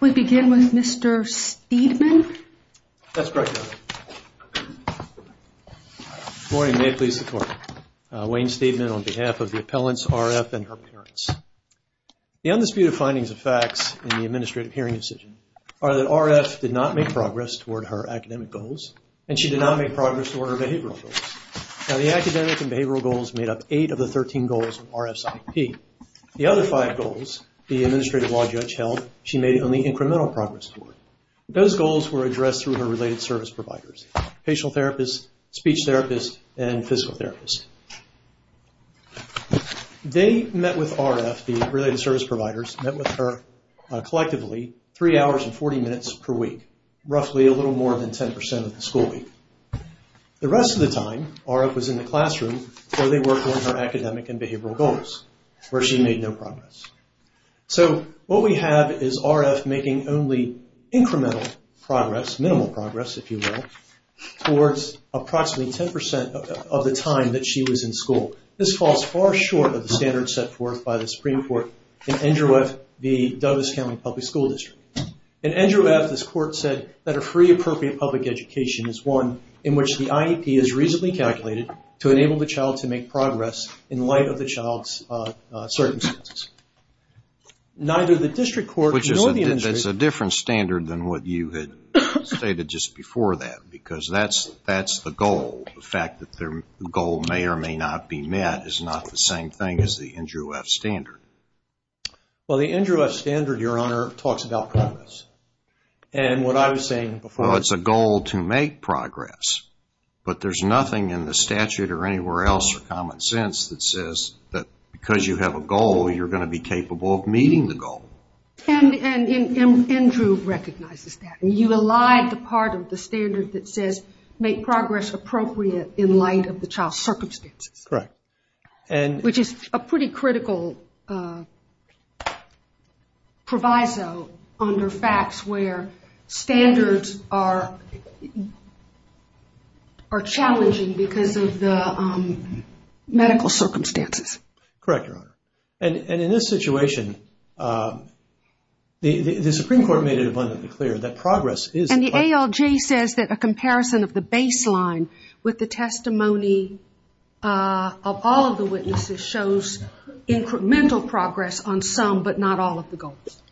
We begin with Mr. Steedman. That's correct, Your Honor. Good morning. May it please the Court. Wayne Steedman on behalf of the appellants R.F. and her parents. The undisputed findings of facts in the administrative hearing decision are that R.F. did not make progress toward her academic goals and she did not make progress toward her behavioral goals. Now the academic and behavioral goals made up eight of the thirteen goals of R.F.'s IP. The other five goals the administrative law judge held, she made only incremental progress toward. Those goals were addressed through her related service providers, patient therapists, speech therapists, and physical therapists. They met with R.F., the related service providers, met with her collectively three hours and 40 minutes per week, roughly a little more than 10% of the school week. The rest of the time, R.F. was in the classroom where they worked on her academic and behavioral goals, where she made no progress. So what we have is R.F. making only incremental progress, minimal progress if you will, towards approximately 10% of the time that she was in school. This falls far short of the standards set forth by the Supreme Court in Andrew F. v. Douglas County Public School District. In Andrew F., this Court said that a free appropriate public education is one in which the IEP is reasonably calculated to enable the child to make progress in light of the child's circumstances. Neither the district court nor the administrator... Which is a different standard than what you had stated just before that because that's the goal. The fact that the goal may or may not be met is not the same thing as the Andrew F. standard. Well, the Andrew F. standard, Your Honor, talks about progress. And what I was saying before... Well, it's a goal to make progress, but there's nothing in the statute or anywhere else or common sense that says that because you have a goal, you're going to be capable of meeting the goal. And Andrew recognizes that. You allied the part of the standard that says make progress appropriate in light of the child's circumstances. Correct. Which is a pretty critical proviso under facts where standards are challenging because of the medical circumstances. Correct, Your Honor. And in this situation, the Supreme Court made it abundantly clear that progress is... And the ALJ says that a comparison of the baseline with the testimony of all of the witnesses shows incremental progress on some but not all of the goals.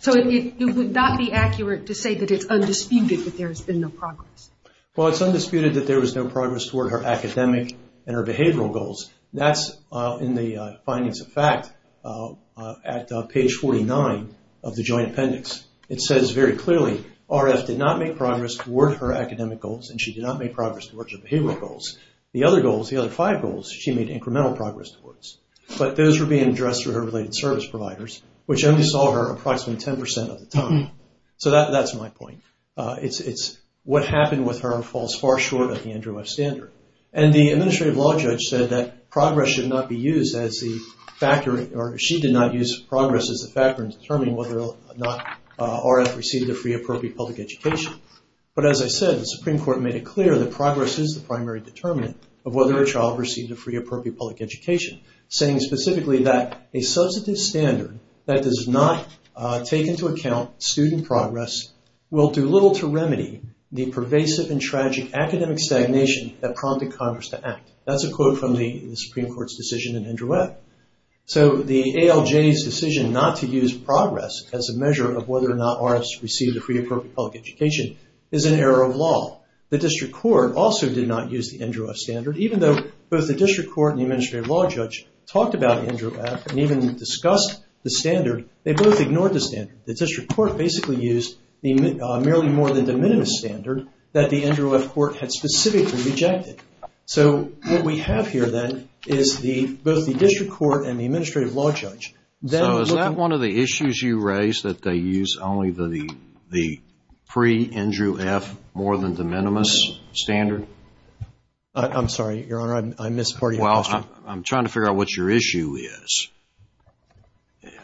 So it would not be accurate to say that it's undisputed that there's been no progress. Well, it's undisputed that there was no progress toward her academic and her behavioral goals. That's in the findings of fact at page 49 of the joint appendix. It says very clearly RF did not make progress toward her academic goals and she did not make progress toward her behavioral goals. The other goals, the other five goals, she made incremental progress towards. But those were being addressed through her related service providers, which only saw her approximately 10% of the time. So that's my point. It's what happened with her falls far short of the Andrew F. Standard. And the Administrative Law Judge said that progress should not be used as the factor... or she did not use progress as the factor in determining whether or not RF received a free appropriate public education. But as I said, the Supreme Court made it clear that progress is the primary determinant of whether a child received a free appropriate public education, saying specifically that a substantive standard that does not take into account student progress will do little to remedy the pervasive and tragic academic stagnation that prompted Congress to act. That's a quote from the Supreme Court's decision in Andrew F. So the ALJ's decision not to use progress as a measure of whether or not RF received a free appropriate public education is an error of law. The District Court also did not use the Andrew F. Standard, even though both the District Court and the Administrative Law Judge talked about Andrew F. and even discussed the standard, they both ignored the standard. The District Court basically used the merely more than de minimis standard that the Andrew F. Court had specifically rejected. So what we have here then is both the District Court and the Administrative Law Judge. So is that one of the issues you raised, that they use only the pre-Andrew F. more than de minimis standard? I'm sorry, Your Honor, I missed part of your question. Well, I'm trying to figure out what your issue is.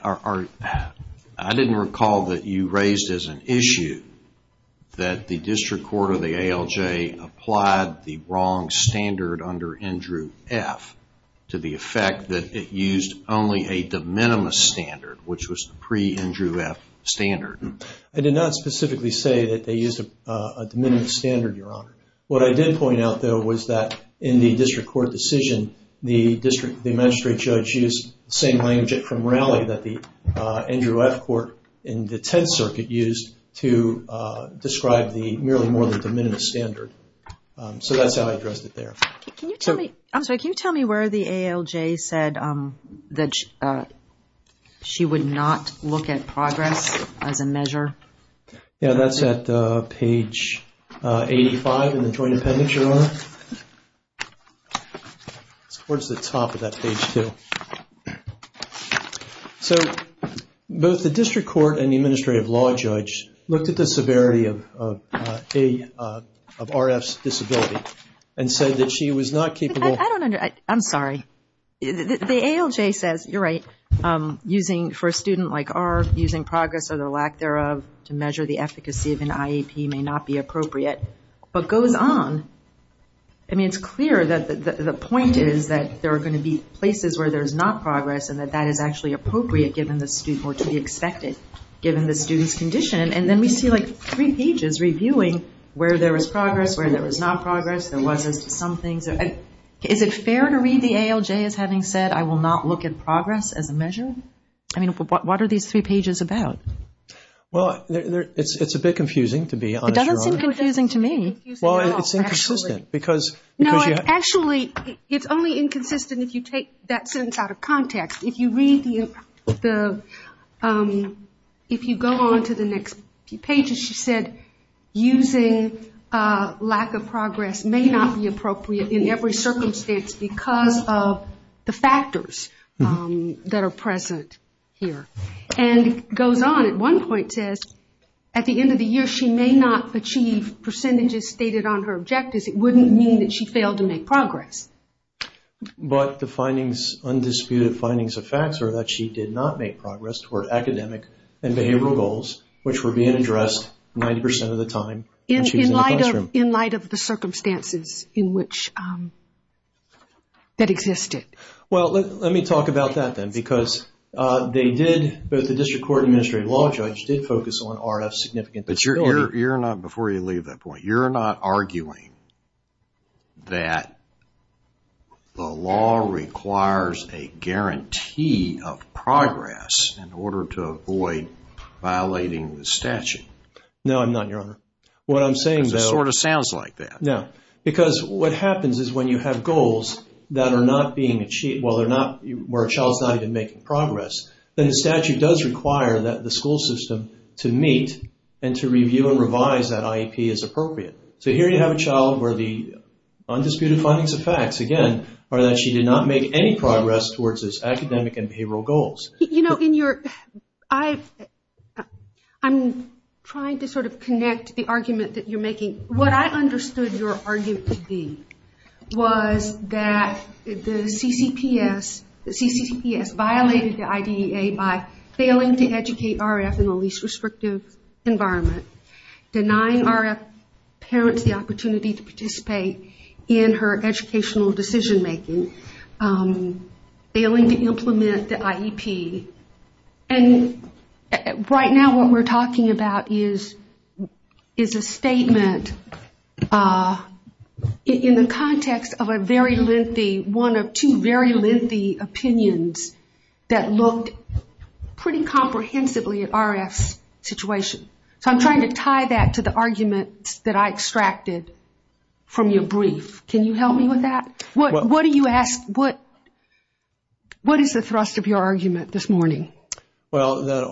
I didn't recall that you raised as an issue that the District Court or the ALJ applied the wrong standard under Andrew F. to the effect that it used only a de minimis standard, which was the pre-Andrew F. standard. I did not specifically say that they used a de minimis standard, Your Honor. What I did point out, though, was that in the District Court decision, the Magistrate Judge used the same language from Raleigh that the Andrew F. Court in the Tenth Circuit used to describe the merely more than de minimis standard. So that's how I addressed it there. I'm sorry, can you tell me where the ALJ said that she would not look at progress as a measure? Yeah, that's at page 85 in the Joint Appendix, Your Honor. It's towards the top of that page, too. So both the District Court and the Administrative Law Judge looked at the severity of RF's disability and said that she was not capable... I don't understand. I'm sorry. The ALJ says, you're right, for a student like RF, using progress or the lack thereof to measure the efficacy of an IEP may not be appropriate, but goes on. I mean, it's clear that the point is that there are going to be places where there's not progress and that that is actually appropriate given the student or to be expected given the student's condition. And then we see, like, three pages reviewing where there was progress, where there was not progress, there was some things. Is it fair to read the ALJ as having said, I will not look at progress as a measure? I mean, what are these three pages about? Well, it's a bit confusing, to be honest, Your Honor. It doesn't seem confusing to me. Well, it's inconsistent because... No, actually, it's only inconsistent if you take that sentence out of context. If you read the... If you go on to the next few pages, she said, using lack of progress may not be appropriate in every circumstance because of the factors that are present here. And it goes on. At one point it says, at the end of the year she may not achieve percentages stated on her objectives. It wouldn't mean that she failed to make progress. But the findings, undisputed findings of facts, are that she did not make progress toward academic and behavioral goals, which were being addressed 90% of the time when she was in the classroom. In light of the circumstances in which that existed. Well, let me talk about that, then, because they did, both the district court and the administrative law judge, did focus on RF's significant disability. But you're not, before you leave that point, you're not arguing that the law requires a guarantee of progress in order to avoid violating the statute. No, I'm not, Your Honor. What I'm saying, though. Because it sort of sounds like that. No. Because what happens is when you have goals that are not being achieved, where a child's not even making progress, then the statute does require that the school system to meet and to review and revise that IEP as appropriate. So here you have a child where the undisputed findings of facts, again, are that she did not make any progress towards those academic and behavioral goals. You know, in your, I'm trying to sort of connect the argument that you're making. What I understood your argument to be was that the CCPS violated the IDEA by failing to educate RF in the least restrictive environment, denying RF parents the opportunity to participate in her educational decision-making, failing to implement the IEP. And right now what we're talking about is a statement in the context of a very lengthy, one of two very lengthy opinions that looked pretty comprehensively at RF's situation. So I'm trying to tie that to the argument that I extracted from your brief. Can you help me with that? What do you ask, what is the thrust of your argument this morning? Well, that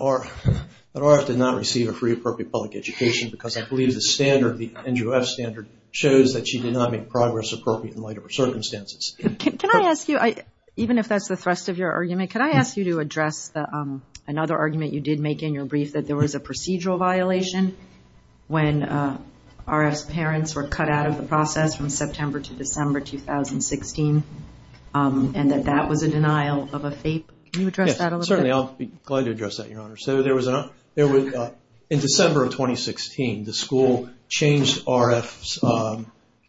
RF did not receive a free appropriate public education because I believe the standard, the NGOF standard, shows that she did not make progress appropriate in light of her circumstances. Can I ask you, even if that's the thrust of your argument, can I ask you to address another argument you did make in your brief, that there was a procedural violation when RF's parents were cut out of the process from September to December 2016, and that that was a denial of a FAPE? Can you address that a little bit? Certainly, I'll be glad to address that, Your Honor. So there was, in December of 2016, the school changed RF's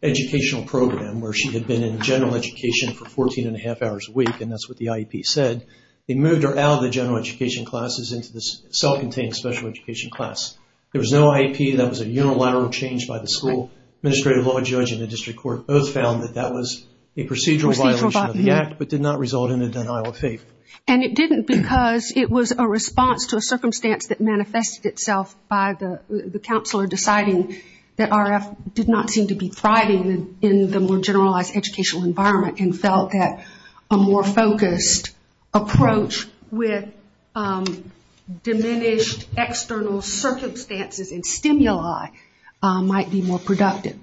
educational program where she had been in general education for 14 and a half hours a week, and that's what the IEP said. They moved her out of the general education classes into the self-contained special education class. There was no IEP, that was a unilateral change by the school, and the administrative law judge and the district court both found that that was a procedural violation of the act, but did not result in a denial of FAPE. And it didn't because it was a response to a circumstance that manifested itself by the counselor deciding that RF did not seem to be thriving in the more generalized educational environment and felt that a more focused approach with diminished external circumstances and stimuli might be more productive.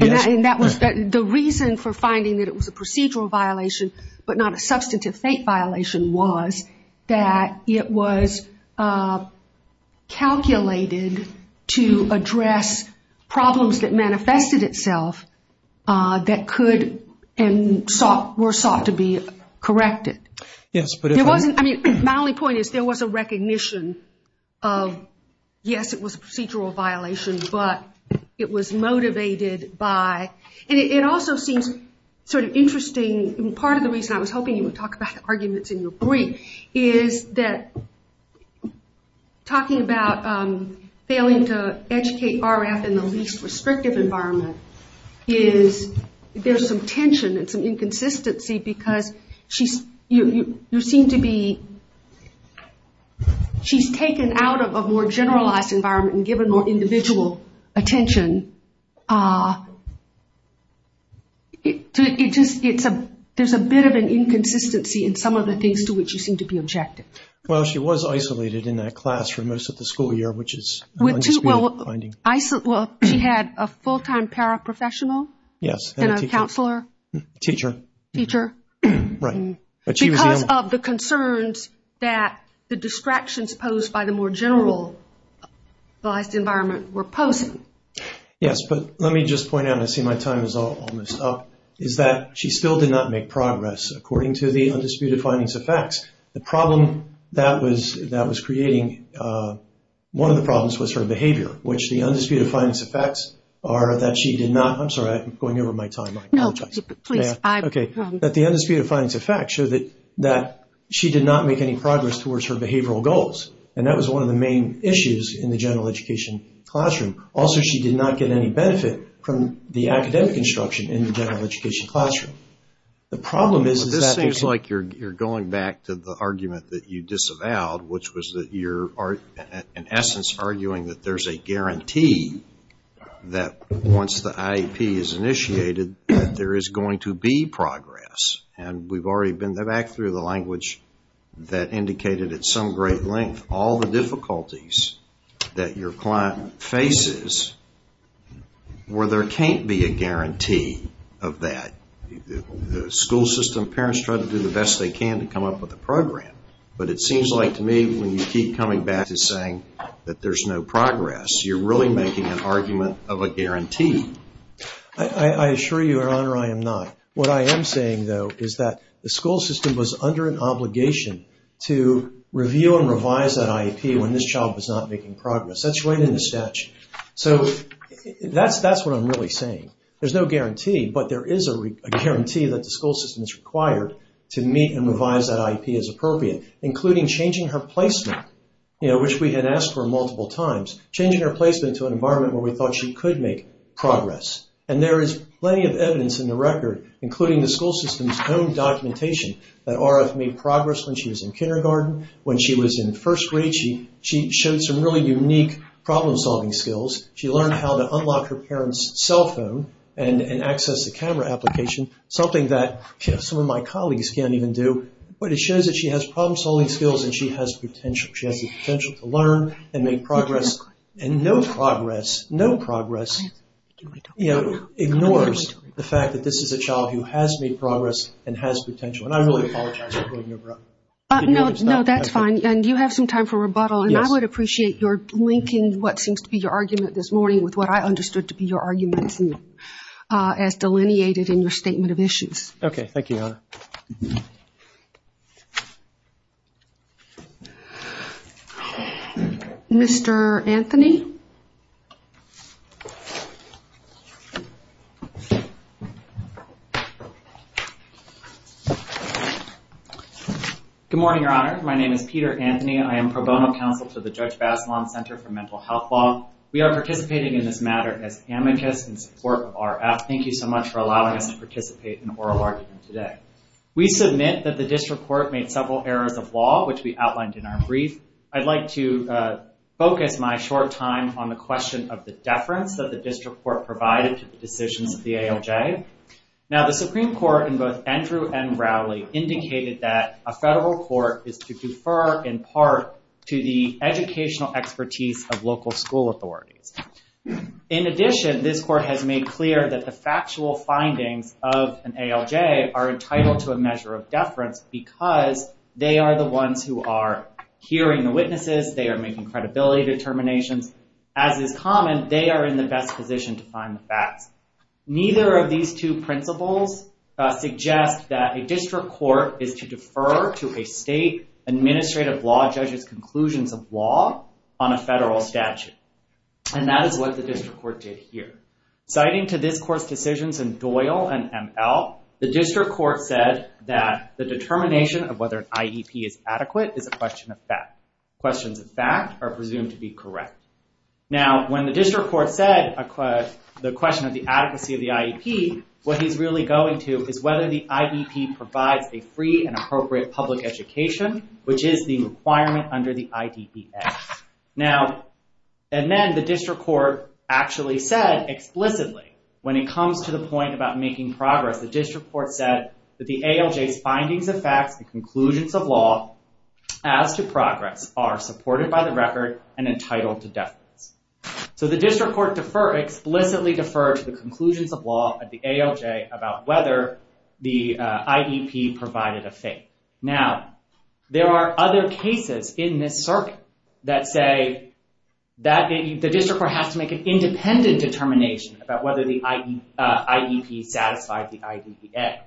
And the reason for finding that it was a procedural violation but not a substantive FAPE violation was that it was calculated to address problems that manifested itself that could and were sought to be corrected. My only point is there was a recognition of, yes, it was a procedural violation, but it was motivated by, and it also seems sort of interesting, part of the reason I was hoping you would talk about the arguments in your brief is that talking about failing to educate RF in the least restrictive environment is there's some tension and some inconsistency because you seem to be, she's taken out of a more generalized environment and given more individual attention. There's a bit of an inconsistency in some of the things to which you seem to be objective. Well, she was isolated in that class for most of the school year, which is an unspeakable finding. She had a full-time paraprofessional and a counselor. Teacher. Teacher. Right. Because of the concerns that the distractions posed by the more generalized environment were posing. Yes, but let me just point out, and I see my time is almost up, is that she still did not make progress according to the undisputed findings of facts. The problem that was creating one of the problems was her behavior, which the undisputed findings of facts are that she did not. I'm sorry, I'm going over my time. No, please. Okay. That the undisputed findings of facts show that she did not make any progress towards her behavioral goals, and that was one of the main issues in the general education classroom. Also, she did not get any benefit from the academic instruction in the general education classroom. The problem is. This seems like you're going back to the argument that you disavowed, which was that you're, in essence, arguing that there's a guarantee that once the IEP is initiated, that there is going to be progress. And we've already been back through the language that indicated at some great length all the difficulties that your client faces where there can't be a guarantee of that. The school system parents try to do the best they can to come up with a program, but it seems like to me when you keep coming back to saying that there's no progress, you're really making an argument of a guarantee. I assure you, Your Honor, I am not. What I am saying, though, is that the school system was under an obligation to review and revise that IEP when this child was not making progress. That's right in the statute. So that's what I'm really saying. There's no guarantee, but there is a guarantee that the school system is required to meet and revise that IEP as appropriate, including changing her placement, which we had asked for multiple times, changing her placement to an environment where we thought she could make progress. And there is plenty of evidence in the record, including the school system's own documentation, that Aura made progress when she was in kindergarten. When she was in first grade, she showed some really unique problem-solving skills. She learned how to unlock her parents' cell phone and access a camera application, something that some of my colleagues can't even do. But it shows that she has problem-solving skills and she has potential. She has the potential to learn and make progress. And no progress ignores the fact that this is a child who has made progress and has potential. And I really apologize for going over that. No, that's fine. And you have some time for rebuttal. And I would appreciate your linking what seems to be your argument this morning with what I understood to be your argument as delineated in your statement of issues. Okay. Thank you, Your Honor. Mr. Anthony? Good morning, Your Honor. My name is Peter Anthony. I am pro bono counsel to the Judge Bassilon Center for Mental Health Law. We are participating in this matter as amicus in support of RF. Thank you so much for allowing us to participate in oral argument today. We submit that the district court made several errors of law, which we outlined in our brief. I'd like to focus my short time on the question of the deference that the district court provided to the decisions of the ALJ. Now, the Supreme Court, in both Andrew and Rowley, indicated that a federal court is to defer in part to the educational expertise of local school authorities. In addition, this court has made clear that the factual findings of an ALJ are entitled to a measure of deference because they are the ones who are hearing the witnesses, they are making credibility determinations. As is common, they are in the best position to find the facts. Neither of these two principles suggest that a district court is to defer to a state administrative law judge's conclusions of law on a federal statute. And that is what the district court did here. Citing to this court's decisions in Doyle and ML, the district court said that the determination of whether an IEP is adequate is a question of fact. Questions of fact are presumed to be correct. Now, when the district court said the question of the adequacy of the IEP, what he's really going to is whether the IEP provides a free and appropriate public education, which is the requirement under the IDPA. Now, and then the district court actually said explicitly, when it comes to the point about making progress, the district court said that the ALJ's findings of facts and conclusions of law as to progress are supported by the record and entitled to deference. So the district court explicitly deferred to the conclusions of law at the ALJ about whether the IEP provided a fate. Now, there are other cases in this circuit that say that the district court has to make an independent determination about whether the IEP satisfied the IDPA,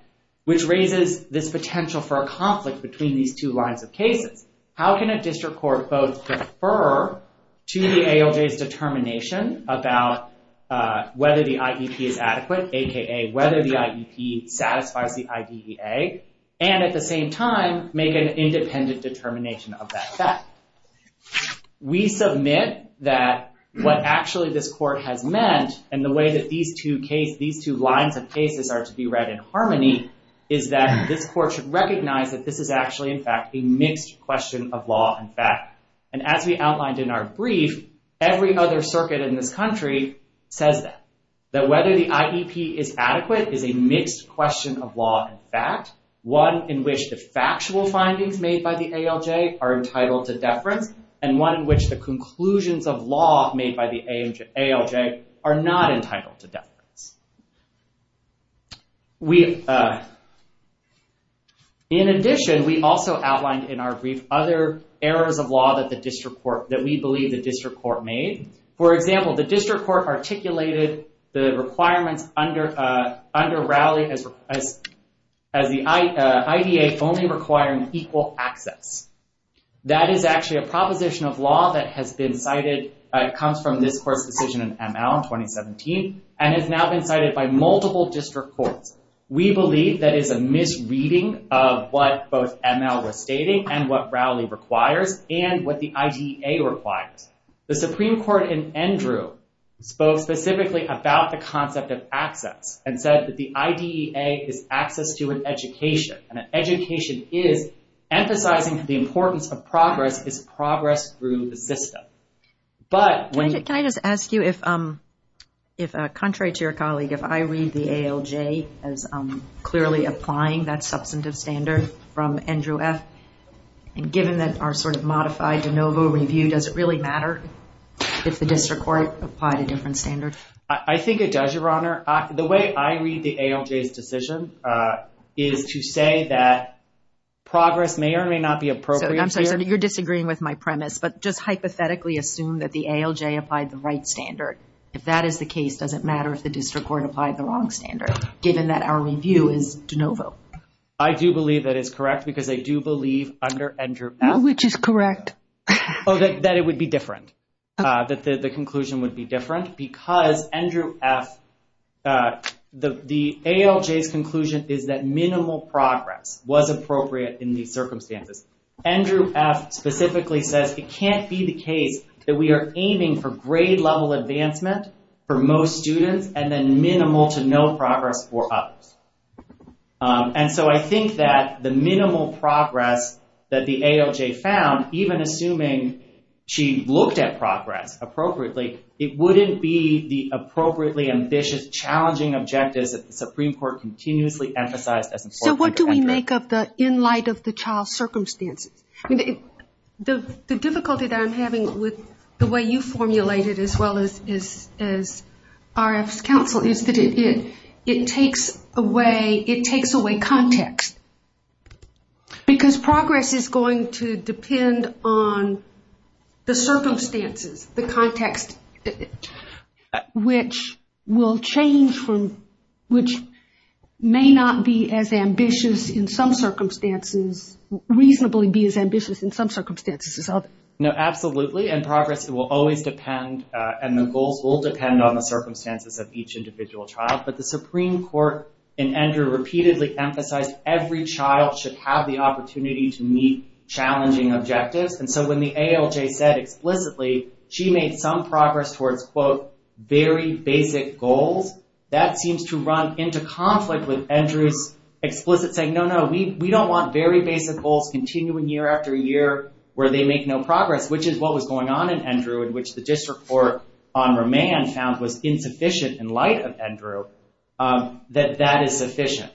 which raises this potential for a conflict between these two lines of cases. How can a district court both defer to the ALJ's determination about whether the IEP is adequate, a.k.a. whether the IEP satisfies the IDEA, and at the same time make an independent determination of that fact? We submit that what actually this court has meant and the way that these two lines of cases are to be read in harmony is that this court should recognize that this is actually, in fact, a mixed question of law and fact. And as we outlined in our brief, every other circuit in this country says that, that whether the IEP is adequate is a mixed question of law and fact, one in which the factual findings made by the ALJ are entitled to deference, and one in which the conclusions of law made by the ALJ are not entitled to deference. In addition, we also outlined in our brief other errors of law that we believe the district court made. For example, the district court articulated the requirements under Rowley as the IDEA only requiring equal access. That is actually a proposition of law that has been cited, comes from this court's decision in ML in 2017, and has now been cited by multiple district courts. We believe that is a misreading of what both ML was stating and what Rowley requires and what the IDEA requires. The Supreme Court in Endrew spoke specifically about the concept of access and said that the IDEA is access to an education, and an education is emphasizing the importance of progress is progress through the system. Can I just ask you if, contrary to your colleague, if I read the ALJ as clearly applying that substantive standard from Endrew F., and given that our sort of modified de novo review, does it really matter if the district court applied a different standard? I think it does, Your Honor. The way I read the ALJ's decision is to say that progress may or may not be appropriate here. You're disagreeing with my premise, but just hypothetically assume that the ALJ applied the right standard. If that is the case, does it matter if the district court applied the wrong standard, given that our review is de novo? I do believe that is correct, because I do believe under Endrew F. Which is correct. That it would be different. That the conclusion would be different, because Endrew F., the ALJ's conclusion is that minimal progress was appropriate in these circumstances. Endrew F. specifically says it can't be the case that we are aiming for grade level advancement for most students, and then minimal to no progress for others. And so I think that the minimal progress that the ALJ found, even assuming she looked at progress appropriately, it wouldn't be the appropriately ambitious, challenging objectives that the Supreme Court continuously emphasized. So what do we make of the in light of the child's circumstances? The difficulty that I'm having with the way you formulated, as well as RF's counsel, is that it takes away context. Because progress is going to depend on the circumstances, the context, which will change from, which may not be as ambitious in some circumstances, reasonably be as ambitious in some circumstances as others. No, absolutely, and progress will always depend, and the goals will depend on the circumstances of each individual child. But the Supreme Court in Endrew repeatedly emphasized every child should have the opportunity to meet challenging objectives. And so when the ALJ said explicitly she made some progress towards, quote, very basic goals, that seems to run into conflict with Endrew's explicit saying, no, no, we don't want very basic goals continuing year after year where they make no progress, which is what was going on in Endrew, in which the district court on remand found was insufficient in light of Endrew, that that is sufficient.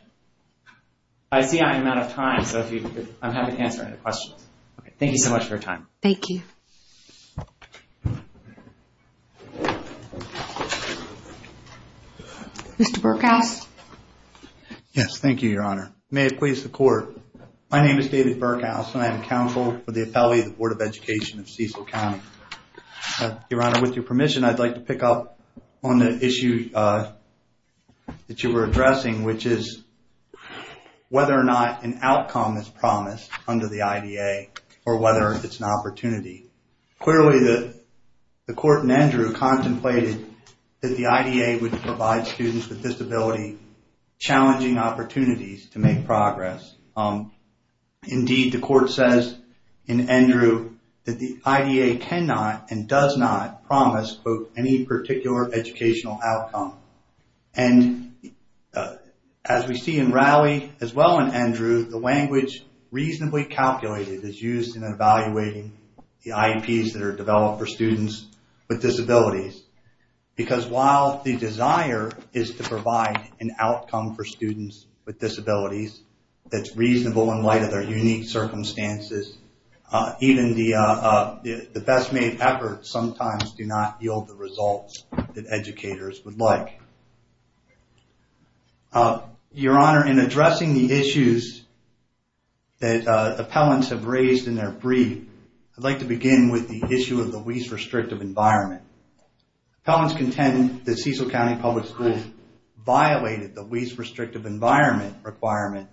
I see I'm out of time, so I'm happy to answer any questions. Thank you so much for your time. Thank you. Mr. Burkhouse? May it please the Court. My name is David Burkhouse, and I am counsel for the appellee of the Board of Education of Cecil County. Your Honor, with your permission, I'd like to pick up on the issue that you were addressing, which is whether or not an outcome is promised under the IDA or whether it's an opportunity. Clearly, the court in Endrew contemplated that the IDA would provide students with disability challenging opportunities to make progress. Indeed, the court says in Endrew that the IDA cannot and does not promise, quote, any particular educational outcome. And as we see in Rowley, as well in Endrew, the language reasonably calculated is used in evaluating the IEPs that are developed for students with disabilities, because while the desire is to provide an outcome for students with disabilities that's reasonable in light of their unique circumstances, even the best-made efforts sometimes do not yield the results that educators would like. Your Honor, in addressing the issues that appellants have raised in their brief, I'd like to begin with the issue of the least restrictive environment. Appellants contend that Cecil County Public Schools violated the least restrictive environment requirement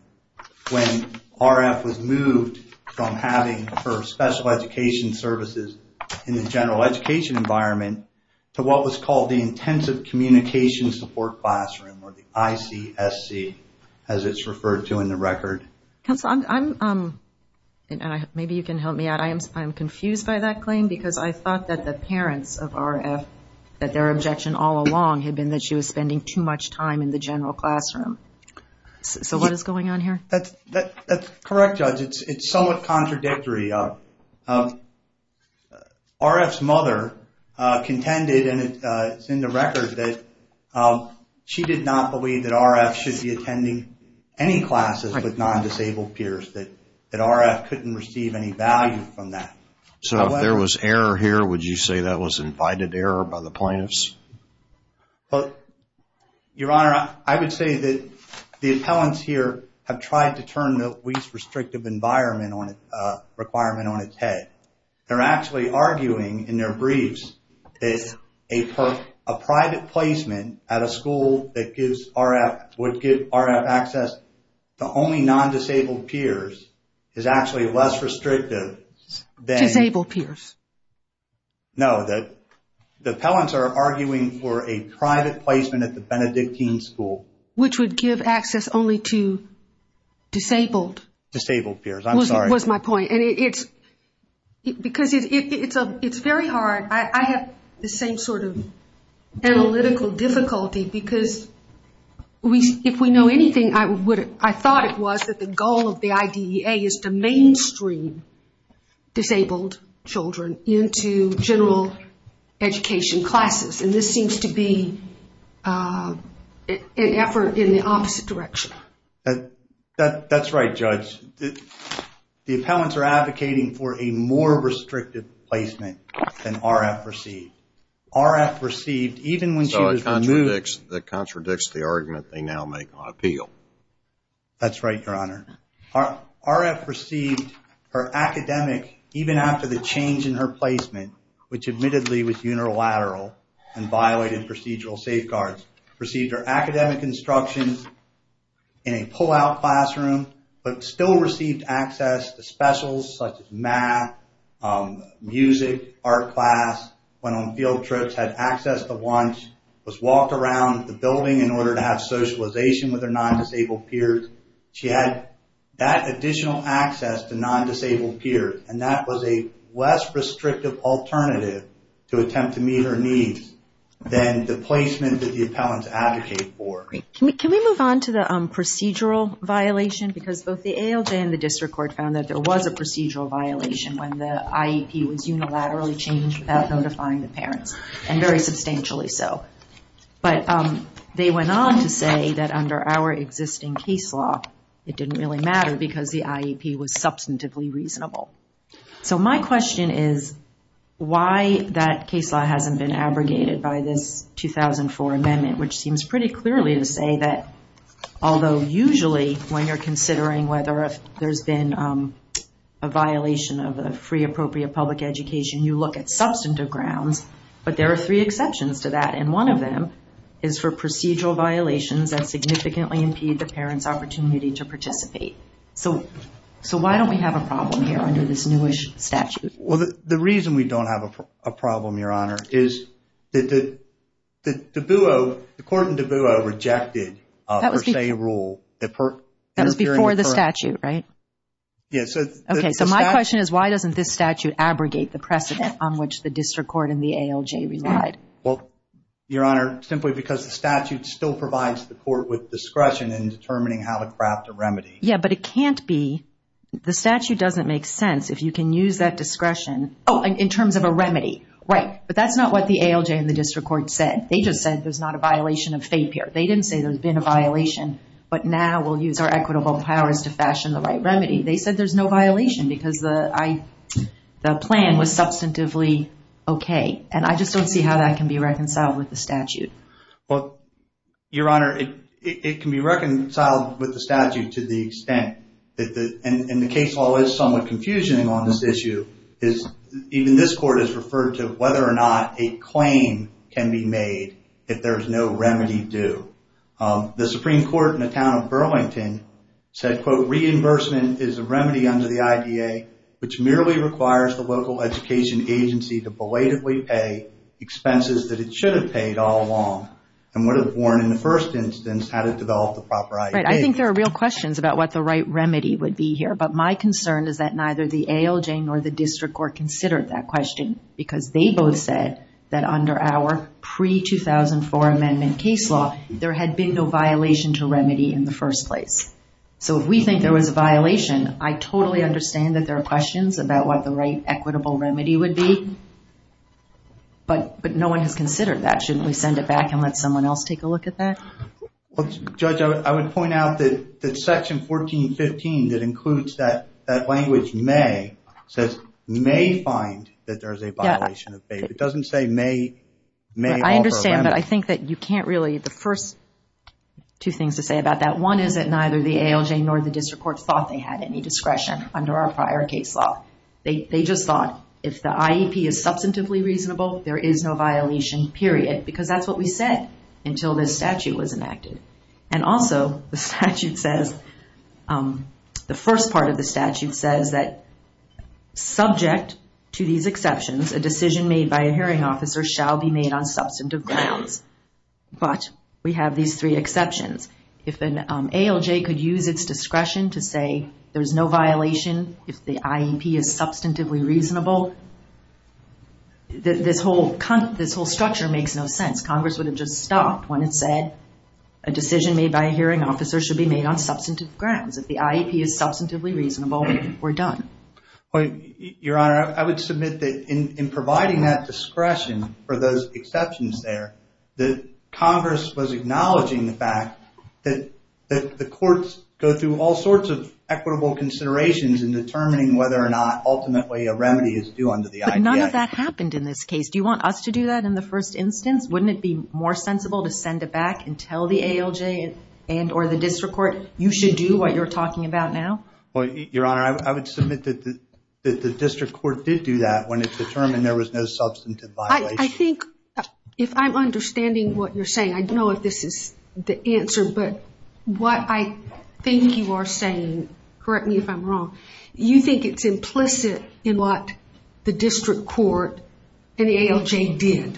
when RF was moved from having her special education services in the general education environment to what was called the Intensive Communication Support Classroom, or the ICSC, as it's referred to in the record. Counsel, maybe you can help me out. I'm confused by that claim because I thought that the parents of RF, that their objection all along had been that she was spending too much time in the general classroom. So what is going on here? That's correct, Judge. It's somewhat contradictory. RF's mother contended, and it's in the record, that she did not believe that RF should be attending any classes with non-disabled peers, that RF couldn't receive any value from that. So if there was error here, would you say that was invited error by the plaintiffs? Your Honor, I would say that the appellants here have tried to turn the least restrictive environment requirement on its head. They're actually arguing in their briefs that a private placement at a school that would give RF access to only non-disabled peers is actually less restrictive than... Disabled peers. No, the appellants are arguing for a private placement at the Benedictine school. Which would give access only to disabled... Disabled peers, I'm sorry. That was my point. Because it's very hard, I have the same sort of analytical difficulty, because if we know anything, I thought it was that the goal of the IDEA is to mainstream disabled children into general education classes. And this seems to be an effort in the opposite direction. That's right, Judge. The appellants are advocating for a more restrictive placement than RF received. RF received, even when she was removed... So it contradicts the argument they now make on appeal. That's right, Your Honor. RF received her academic, even after the change in her placement, which admittedly was unilateral and violated procedural safeguards, received her academic instructions in a pull-out classroom, but still received access to specials such as math, music, art class, went on field trips, had access to lunch, was walked around the building in order to have socialization with her non-disabled peers. She had that additional access to non-disabled peers, and that was a less restrictive alternative to attempt to meet her needs than the placement that the appellants advocate for. Can we move on to the procedural violation? Because both the ALJ and the District Court found that there was a procedural violation when the IEP was unilaterally changed without notifying the parents, and very substantially so. But they went on to say that under our existing case law, it didn't really matter because the IEP was substantively reasonable. So my question is, why that case law hasn't been abrogated by this 2004 amendment, which seems pretty clearly to say that, although usually when you're considering whether there's been a violation of a free, appropriate public education, you look at substantive grounds, but there are three exceptions to that, and one of them is for procedural violations that significantly impede the parents' opportunity to participate. So why don't we have a problem here under this newish statute? Well, the reason we don't have a problem, Your Honor, is that the court in DeBueaux rejected a per se rule. That was before the statute, right? Yes. Okay, so my question is, why doesn't this statute abrogate the precedent on which the District Court and the ALJ relied? Well, Your Honor, simply because the statute still provides the court with discretion in determining how to craft a remedy. Yeah, but it can't be. The statute doesn't make sense if you can use that discretion. Oh, in terms of a remedy, right. But that's not what the ALJ and the District Court said. They just said there's not a violation of FAPE here. They didn't say there's been a violation, but now we'll use our equitable powers to fashion the right remedy. They said there's no violation because the plan was substantively okay, and I just don't see how that can be reconciled with the statute. Well, Your Honor, it can be reconciled with the statute to the extent, and the case law is somewhat confusing on this issue, even this court has referred to whether or not a claim can be made if there's no remedy due. The Supreme Court in the town of Burlington said, quote, reimbursement is a remedy under the IDA, which merely requires the local education agency to belatedly pay expenses that it should have paid all along, and would have warned in the first instance how to develop the proper ID. Right. I think there are real questions about what the right remedy would be here, but my concern is that neither the ALJ nor the District Court considered that question, because they both said that under our pre-2004 amendment case law, there had been no violation to remedy in the first place. So if we think there was a violation, I totally understand that there are questions about what the right equitable remedy would be, but no one has considered that. Shouldn't we send it back and let someone else take a look at that? Judge, I would point out that section 1415, that includes that language may, says may find that there's a violation of pay. It doesn't say may offer a remedy. I understand, but I think that you can't really, the first two things to say about that, one is that neither the ALJ nor the District Court thought they had any discretion under our prior case law. They just thought if the IEP is substantively reasonable, there is no violation, period. Because that's what we said until this statute was enacted. And also, the statute says, the first part of the statute says that, subject to these exceptions, a decision made by a hearing officer shall be made on substantive grounds. But we have these three exceptions. If an ALJ could use its discretion to say there's no violation, if the IEP is substantively reasonable, this whole structure makes no sense. Congress would have just stopped when it said, a decision made by a hearing officer should be made on substantive grounds. If the IEP is substantively reasonable, we're done. Your Honor, I would submit that in providing that discretion for those exceptions there, that Congress was acknowledging the fact that the courts go through all sorts of equitable considerations in determining whether or not ultimately a remedy is due under the IEP. But none of that happened in this case. Do you want us to do that in the first instance? Wouldn't it be more sensible to send it back and tell the ALJ and or the district court, you should do what you're talking about now? Your Honor, I would submit that the district court did do that when it determined there was no substantive violation. I think, if I'm understanding what you're saying, I don't know if this is the answer, but what I think you are saying, and correct me if I'm wrong, you think it's implicit in what the district court and the ALJ did.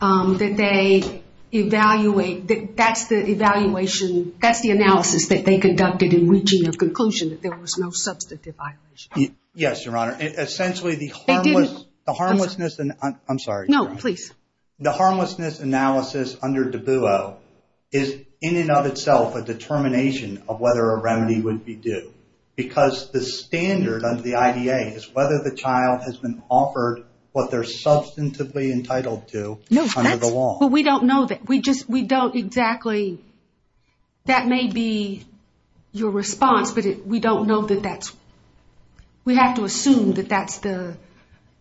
That they evaluate, that's the evaluation, that's the analysis that they conducted in reaching a conclusion that there was no substantive violation. Yes, Your Honor. Essentially, the harmlessness, I'm sorry. No, please. The harmlessness analysis under DABUO is in and of itself a determination of whether a remedy would be due. Because the standard under the IDA is whether the child has been offered what they're substantively entitled to under the law. No, but we don't know that. We don't exactly, that may be your response, but we don't know that that's, we have to assume that that's the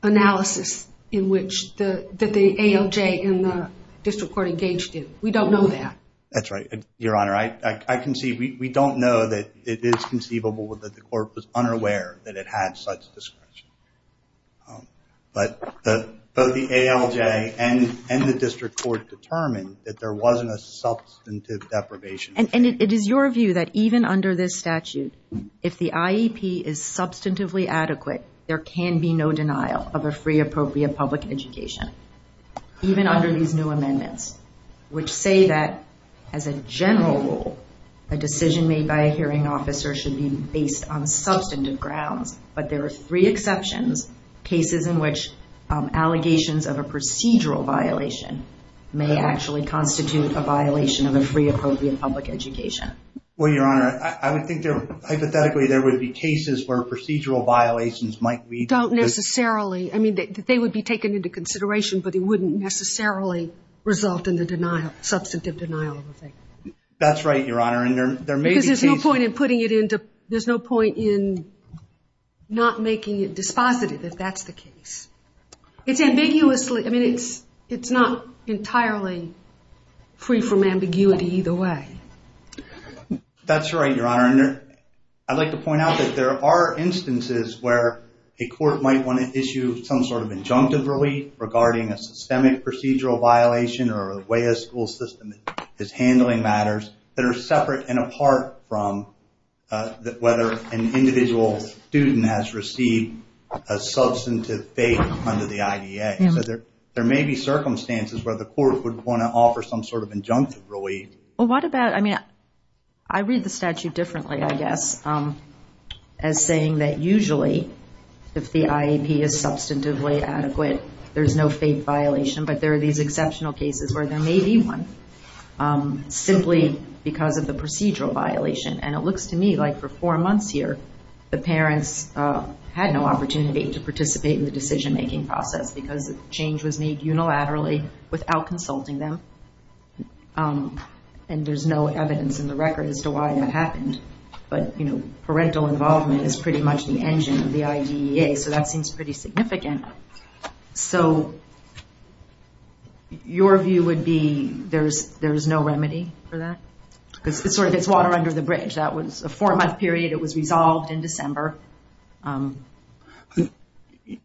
analysis that the ALJ and the district court engaged in. We don't know that. That's right. Your Honor, I can see, we don't know that it is conceivable that the court was unaware that it had such discretion. But both the ALJ and the district court determined that there wasn't a substantive deprivation. And it is your view that even under this statute, if the IEP is substantively adequate, there can be no denial of a free appropriate public education. Even under these new amendments, which say that as a general rule, a decision made by a hearing officer should be based on substantive grounds. But there are three exceptions, cases in which allegations of a procedural violation may actually constitute a violation of a free appropriate public education. Well, Your Honor, I would think there, hypothetically there would be cases where procedural violations might lead to... Don't necessarily, I mean, they would be taken into consideration, but it wouldn't necessarily result in the denial, substantive denial of a thing. That's right, Your Honor, and there may be cases... Because there's no point in putting it into, there's no point in not making it dispositive if that's the case. It's ambiguously, I mean, it's not entirely free from ambiguity either way. That's right, Your Honor. I'd like to point out that there are instances where a court might want to issue some sort of injunctive relief regarding a systemic procedural violation or the way a school system is handling matters that are separate and apart from whether an individual student has received a substantive fate under the IDA. So there may be circumstances where the court would want to offer some sort of injunctive relief. Well, what about, I mean, I read the statute differently, I guess, as saying that usually, if the IEP is substantively adequate, there's no fate violation, but there are these exceptional cases where there may be one simply because of the procedural violation. And it looks to me like for four months here, the parents had no opportunity to participate in the decision-making process because the change was made unilaterally without consulting them, and there's no evidence in the record as to why that happened. But, you know, parental involvement is pretty much the engine of the IDA, so that seems pretty significant. So your view would be there's no remedy for that? Because it sort of gets water under the bridge. That was a four-month period. It was resolved in December.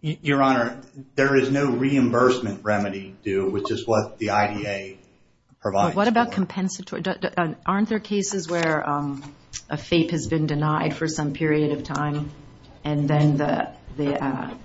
Your Honor, there is no reimbursement remedy due, which is what the IDA provides. What about compensatory? Aren't there cases where a FAPE has been denied for some period of time, and then the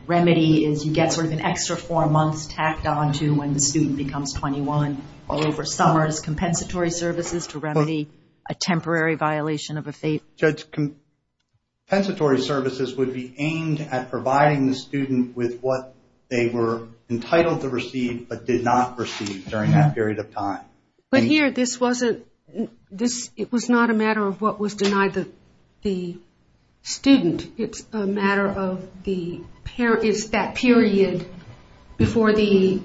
remedy is you get sort of an extra four months tacked onto when the student becomes 21 all over summer as compensatory services to remedy a temporary violation of a FAPE? Judge, compensatory services would be aimed at providing the student with what they were entitled to receive, but did not receive during that period of time. But here, this wasn't... It was not a matter of what was denied the student. It's a matter of the parent... It's that period before the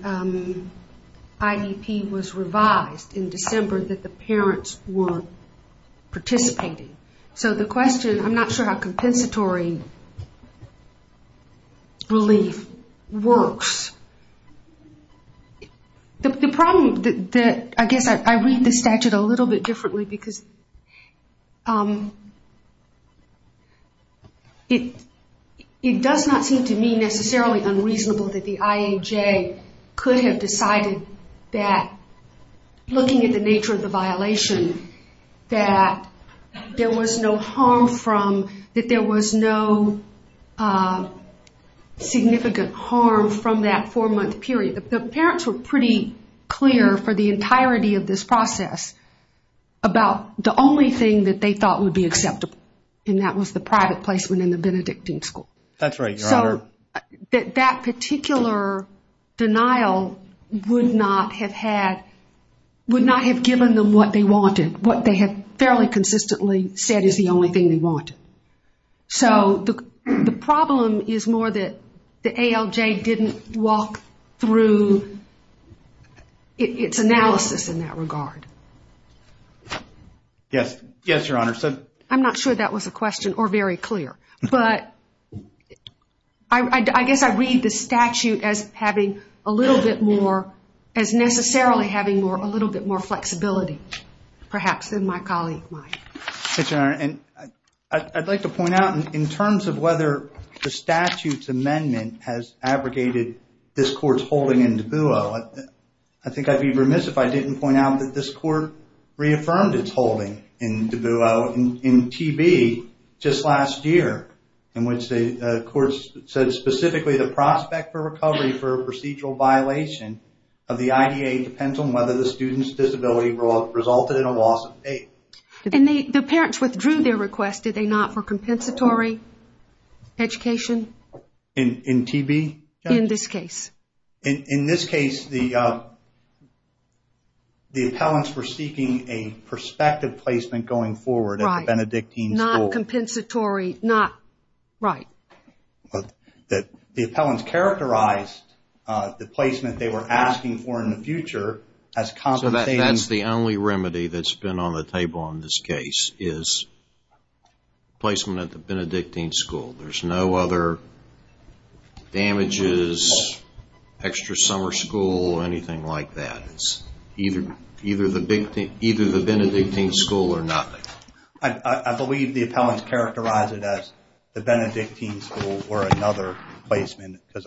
IDP was revised in December that the parents were participating. So the question... I'm not sure how compensatory relief works. The problem... I guess I read the statute a little bit differently because it does not seem to me necessarily unreasonable that the IAJ could have decided that looking at the nature of the violation, that there was no harm from... The parents were pretty clear for the entirety of this process about the only thing that they thought would be acceptable, and that was the private placement in the Benedictine school. That's right, Your Honor. So that particular denial would not have had... would not have given them what they wanted, what they had fairly consistently said is the only thing they wanted. So the problem is more that the ALJ didn't walk through its analysis in that regard. Yes, Your Honor. I'm not sure that was a question or very clear, but I guess I read the statute as having a little bit more... as necessarily having a little bit more flexibility, perhaps, than my colleague might. And I'd like to point out, in terms of whether the statute's amendment has abrogated this court's holding in Dubuque, I think I'd be remiss if I didn't point out that this court reaffirmed its holding in Dubuque in TB just last year, in which the court said specifically the prospect for recovery for a procedural violation of the IDA depends on whether the student's disability resulted in a loss of faith. And the parents withdrew their request, did they not, for compensatory education? In TB? In this case. In this case, the appellants were seeking a prospective placement going forward at the Benedictine School. Right, not compensatory, not... right. The appellants characterized the placement they were asking for in the future as compensating... So that's the only remedy that's been on the table on this case, is placement at the Benedictine School. There's no other damages, extra summer school, or anything like that. It's either the Benedictine School or nothing. I believe the appellants characterized it as the Benedictine School or another placement because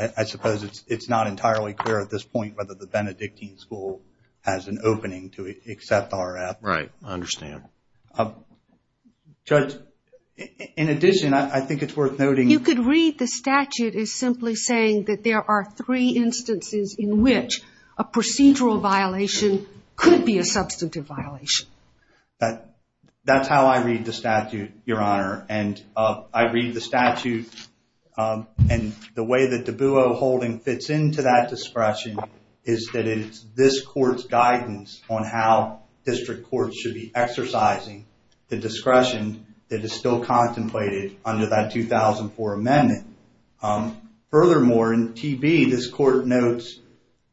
I suppose it's not entirely clear at this point whether the Benedictine School has an opening to accept our appellant. Right, I understand. Judge, in addition, I think it's worth noting... You could read the statute as simply saying that there are three instances in which a procedural violation could be a substantive violation. That's how I read the statute, Your Honor. And I read the statute, and the way that de Beauvold holding fits into that discretion is that it is this court's guidance on how district courts should be exercising the discretion that is still contemplated under that 2004 amendment. Furthermore, in TB, this court notes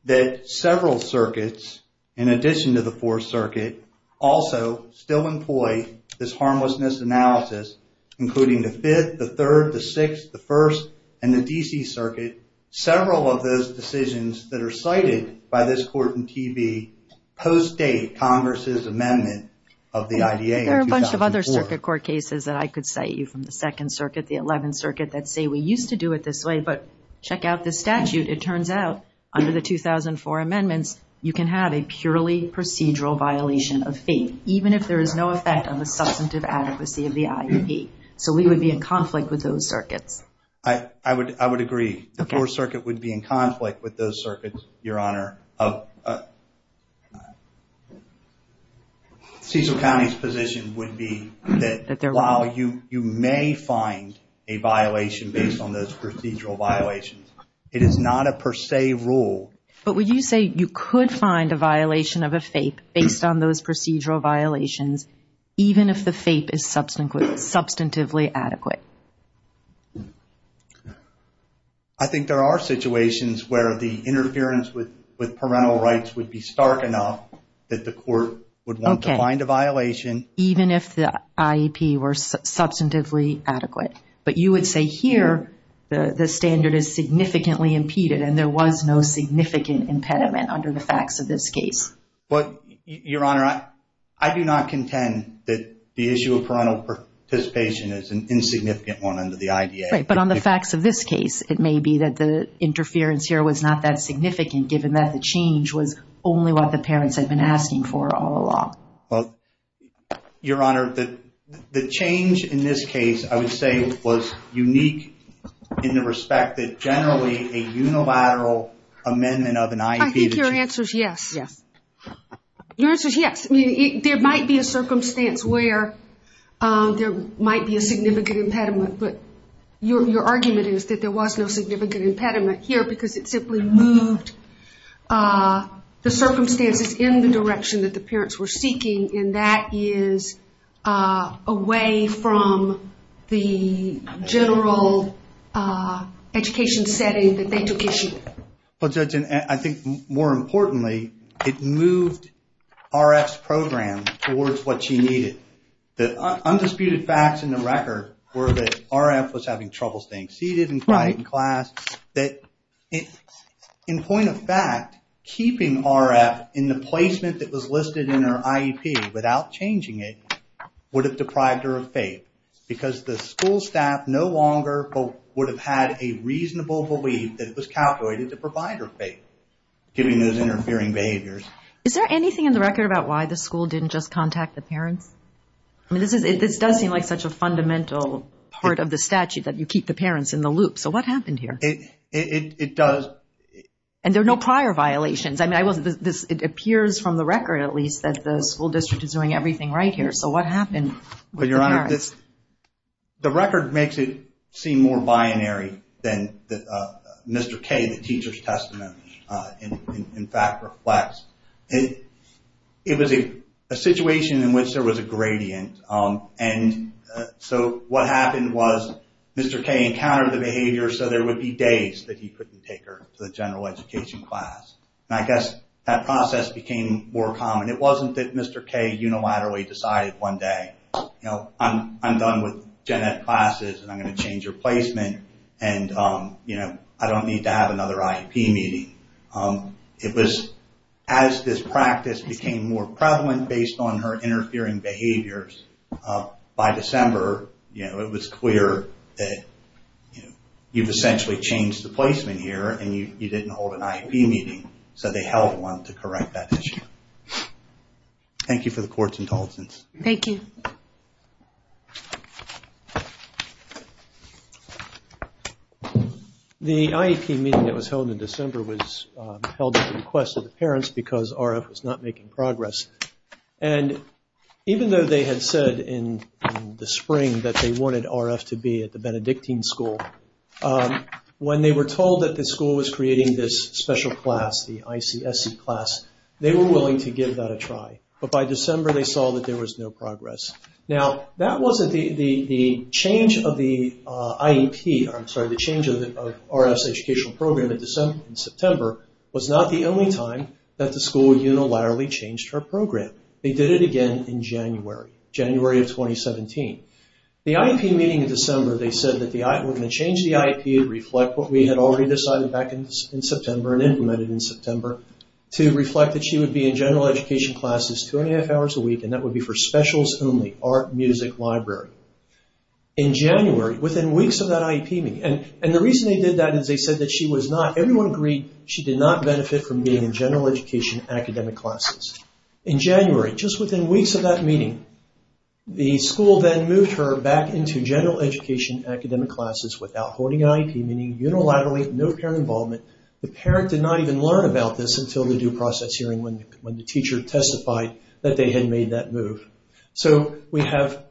that several circuits, in addition to the 4th Circuit, also still employ this harmlessness analysis, including the 5th, the 3rd, the 6th, the 1st, and the D.C. Circuit. Several of those decisions that are cited by this court in TB post-date Congress's amendment of the IDA in 2004. There are a bunch of other circuit court cases that I could cite you from the 2nd Circuit, the 11th Circuit, that say we used to do it this way, but check out this statute. It turns out, under the 2004 amendments, you can have a purely procedural violation of faith, even if there is no effect on the substantive adequacy of the IEP. So we would be in conflict with those circuits. I would agree. The 4th Circuit would be in conflict with those circuits, Your Honor. Cecil County's position would be that while you may find a violation based on those procedural violations, it is not a per se rule. But would you say you could find a violation of a faith based on those procedural violations, even if the faith is substantively adequate? I think there are situations where the interference with parental rights would be stark enough that the court would want to find a violation. Even if the IEP were substantively adequate. But you would say here the standard is significantly impeded and there was no significant impediment under the facts of this case. Your Honor, I do not contend that the issue of parental participation is an insignificant one under the IDA. But on the facts of this case, it may be that the interference here was not that significant given that the change was only what the parents had been asking for all along. Your Honor, the change in this case, I would say, was unique in the respect that generally a unilateral amendment of an IEP... I think your answer is yes. Your answer is yes. There might be a circumstance where there might be a significant impediment. But your argument is that there was no significant impediment here because it simply moved the circumstances in the direction that the parents were seeking, and that is away from the general education setting that they took issue with. But Judge, I think more importantly, it moved RF's program towards what she needed. The undisputed facts in the record were that RF was having trouble staying seated in class, that in point of fact, keeping RF in the placement that was listed in her IEP without changing it would have deprived her of FAPE. Because the school staff no longer would have had a reasonable belief that it was calculated to provide her FAPE, given those interfering behaviors. Is there anything in the record about why the school didn't just contact the parents? This does seem like such a fundamental part of the statute, that you keep the parents in the loop. So what happened here? It does... And there are no prior violations. It appears from the record, at least, that the school district is doing everything right here. So what happened with the parents? The record makes it seem more binary than Mr. K, the teacher's testimony, in fact, reflects. It was a situation in which there was a gradient. And so what happened was Mr. K encountered the behavior so there would be days that he couldn't take her to the general education class. And I guess that process became more common. It wasn't that Mr. K unilaterally decided one day, you know, I'm done with gen ed classes and I'm going to change your placement and, you know, I don't need to have another IEP meeting. It was as this practice became more prevalent based on her interfering behaviors, by December, you know, it was clear that, you know, you've essentially changed the placement here and you didn't hold an IEP meeting. So they held one to correct that issue. Thank you for the court's intelligence. Thank you. The IEP meeting that was held in December was held at the request of the parents because RF was not making progress. And even though they had said in the spring that they wanted RF to be at the Benedictine school, when they were told that the school was creating this special class, the ICSC class, they were willing to give that a try. But by December, they saw that there was no progress. Now, that wasn't the change of the IEP, I'm sorry, the change of RF's educational program in September was not the only time that the school unilaterally changed her program. They did it again in January, January of 2017. The IEP meeting in December, they said that we're going to change the IEP to reflect what we had already decided back in September and implemented in September to reflect that she would be in general education classes two and a half hours a week and that would be for specials only, art, music, library. In January, within weeks of that IEP meeting, and the reason they did that is they said that she was not, everyone agreed, she did not benefit from being in general education academic classes. In January, just within weeks of that meeting, the school then moved her back into general education academic classes without holding IEP, meaning unilaterally, no parent involvement. The parent did not even learn about this until the due process hearing when the teacher testified that they had made that move. So we have,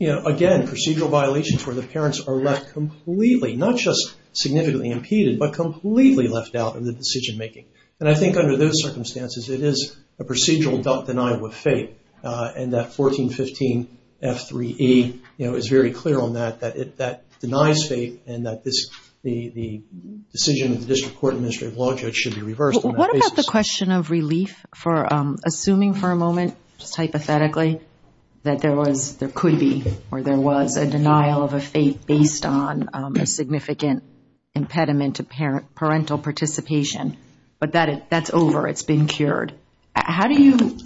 again, procedural violations where the parents are left completely, not just significantly impeded, but completely left out of the decision making. And I think under those circumstances, it is a procedural doubt denial with faith and that 1415 F3E is very clear on that, that it, that denies faith and that this, the decision of the district court administrative law judge should be reversed on that basis. What about the question of relief for, assuming for a moment, just hypothetically, that there was, there could be, or there was a denial of a faith based on a significant impediment to parental participation, but that's over, it's been cured. How do you,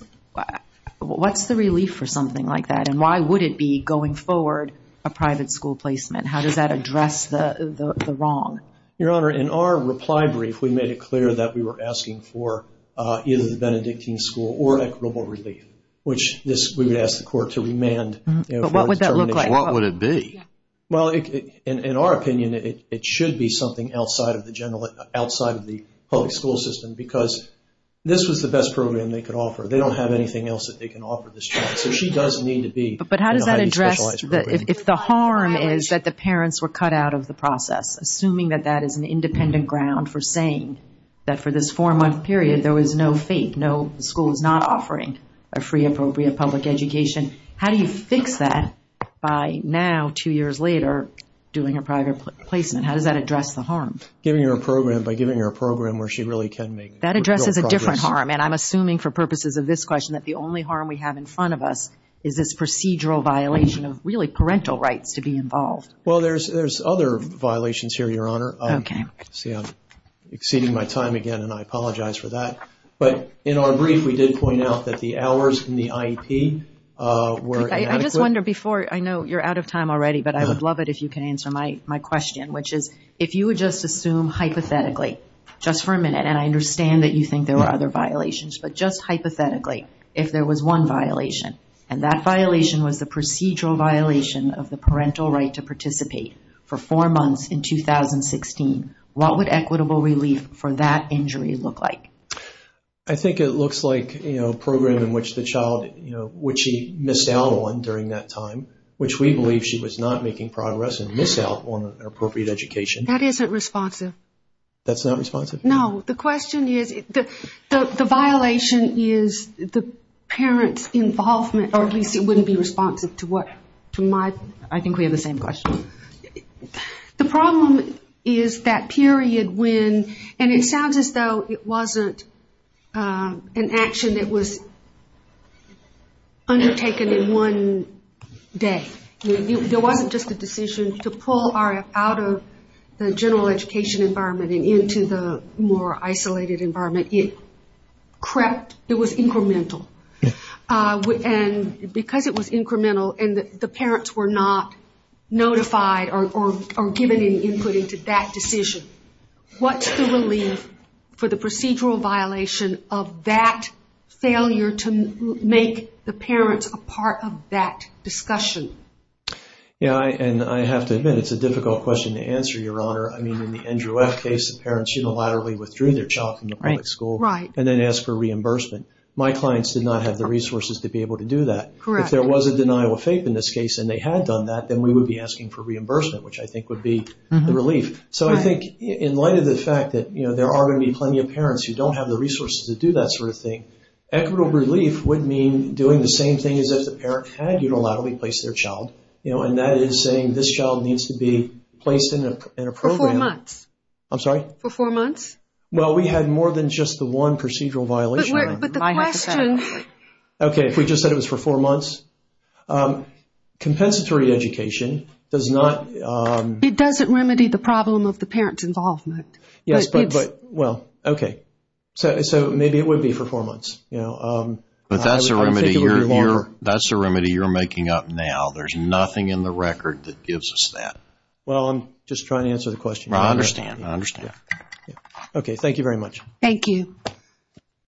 what's the relief for something like that and why would it be going forward a private school placement? How does that address the wrong? Your Honor, in our reply brief, we made it clear that we were asking for either the Benedictine school or equitable relief, which this, we would ask the court to remand. But what would that look like? What would it be? Well, in our opinion, it should be something outside of the general, outside of the public school system because this was the best program they could offer. They don't have anything else that they can offer this child. So she does need to be in a highly specialized program. But how does that address, if the harm is that the parents were cut out of the process, assuming that that is an independent ground for saying that for this four-month period there was no faith, no schools not offering a free, appropriate public education, how do you fix that by now, two years later, doing a private placement? How does that address the harm? Giving her a program, by giving her a program where she really can make real progress. That addresses a different harm, and I'm assuming for purposes of this question that the only harm we have in front of us is this procedural violation of really parental rights to be involved. Well, there's other violations here, Your Honor. Okay. See, I'm exceeding my time again, and I apologize for that. But in our brief, we did point out that the hours in the IEP were inadequate. I just wonder before, I know you're out of time already, but I would love it if you could answer my question, which is if you would just assume hypothetically, just for a minute, and I understand that you think there were other violations, but just hypothetically, if there was one violation and that violation was the procedural violation of the parental right to participate for four months in 2016, what would equitable relief for that injury look like? I think it looks like a program in which the child, which she missed out on during that time, which we believe she was not making progress and missed out on an appropriate education. That isn't responsive. That's not responsive? No. The question is, the violation is the parent's involvement, or at least it wouldn't be responsive to what? I think we have the same question. The problem is that period when, and it sounds as though it wasn't an action that was undertaken in one day. There wasn't just a decision to pull RF out of the general education environment and into the more isolated environment. It was incremental. Because it was incremental and the parents were not notified or given any input into that decision, what's the relief for the procedural violation of that failure to make the parents a part of that discussion? I have to admit it's a difficult question to answer, Your Honor. In the Andrew F. case, the parents unilaterally withdrew their child from the public school and then asked for reimbursement. My clients did not have the resources to be able to do that. If there was a denial of faith in this case and they had done that, then we would be asking for reimbursement, which I think would be the relief. So I think in light of the fact that there are going to be plenty of parents who don't have the resources to do that sort of thing, equitable relief would mean doing the same thing as if the parent had unilaterally placed their child, and that is saying this child needs to be placed in a program. For four months. I'm sorry? For four months. Well, we had more than just the one procedural violation. But the question... Okay, if we just said it was for four months. Compensatory education does not... It doesn't remedy the problem of the parent's involvement. Yes, but, well, okay. So maybe it would be for four months. But that's a remedy you're making up now. There's nothing in the record that gives us that. Well, I'm just trying to answer the question. I understand, I understand. Okay, thank you very much. Thank you.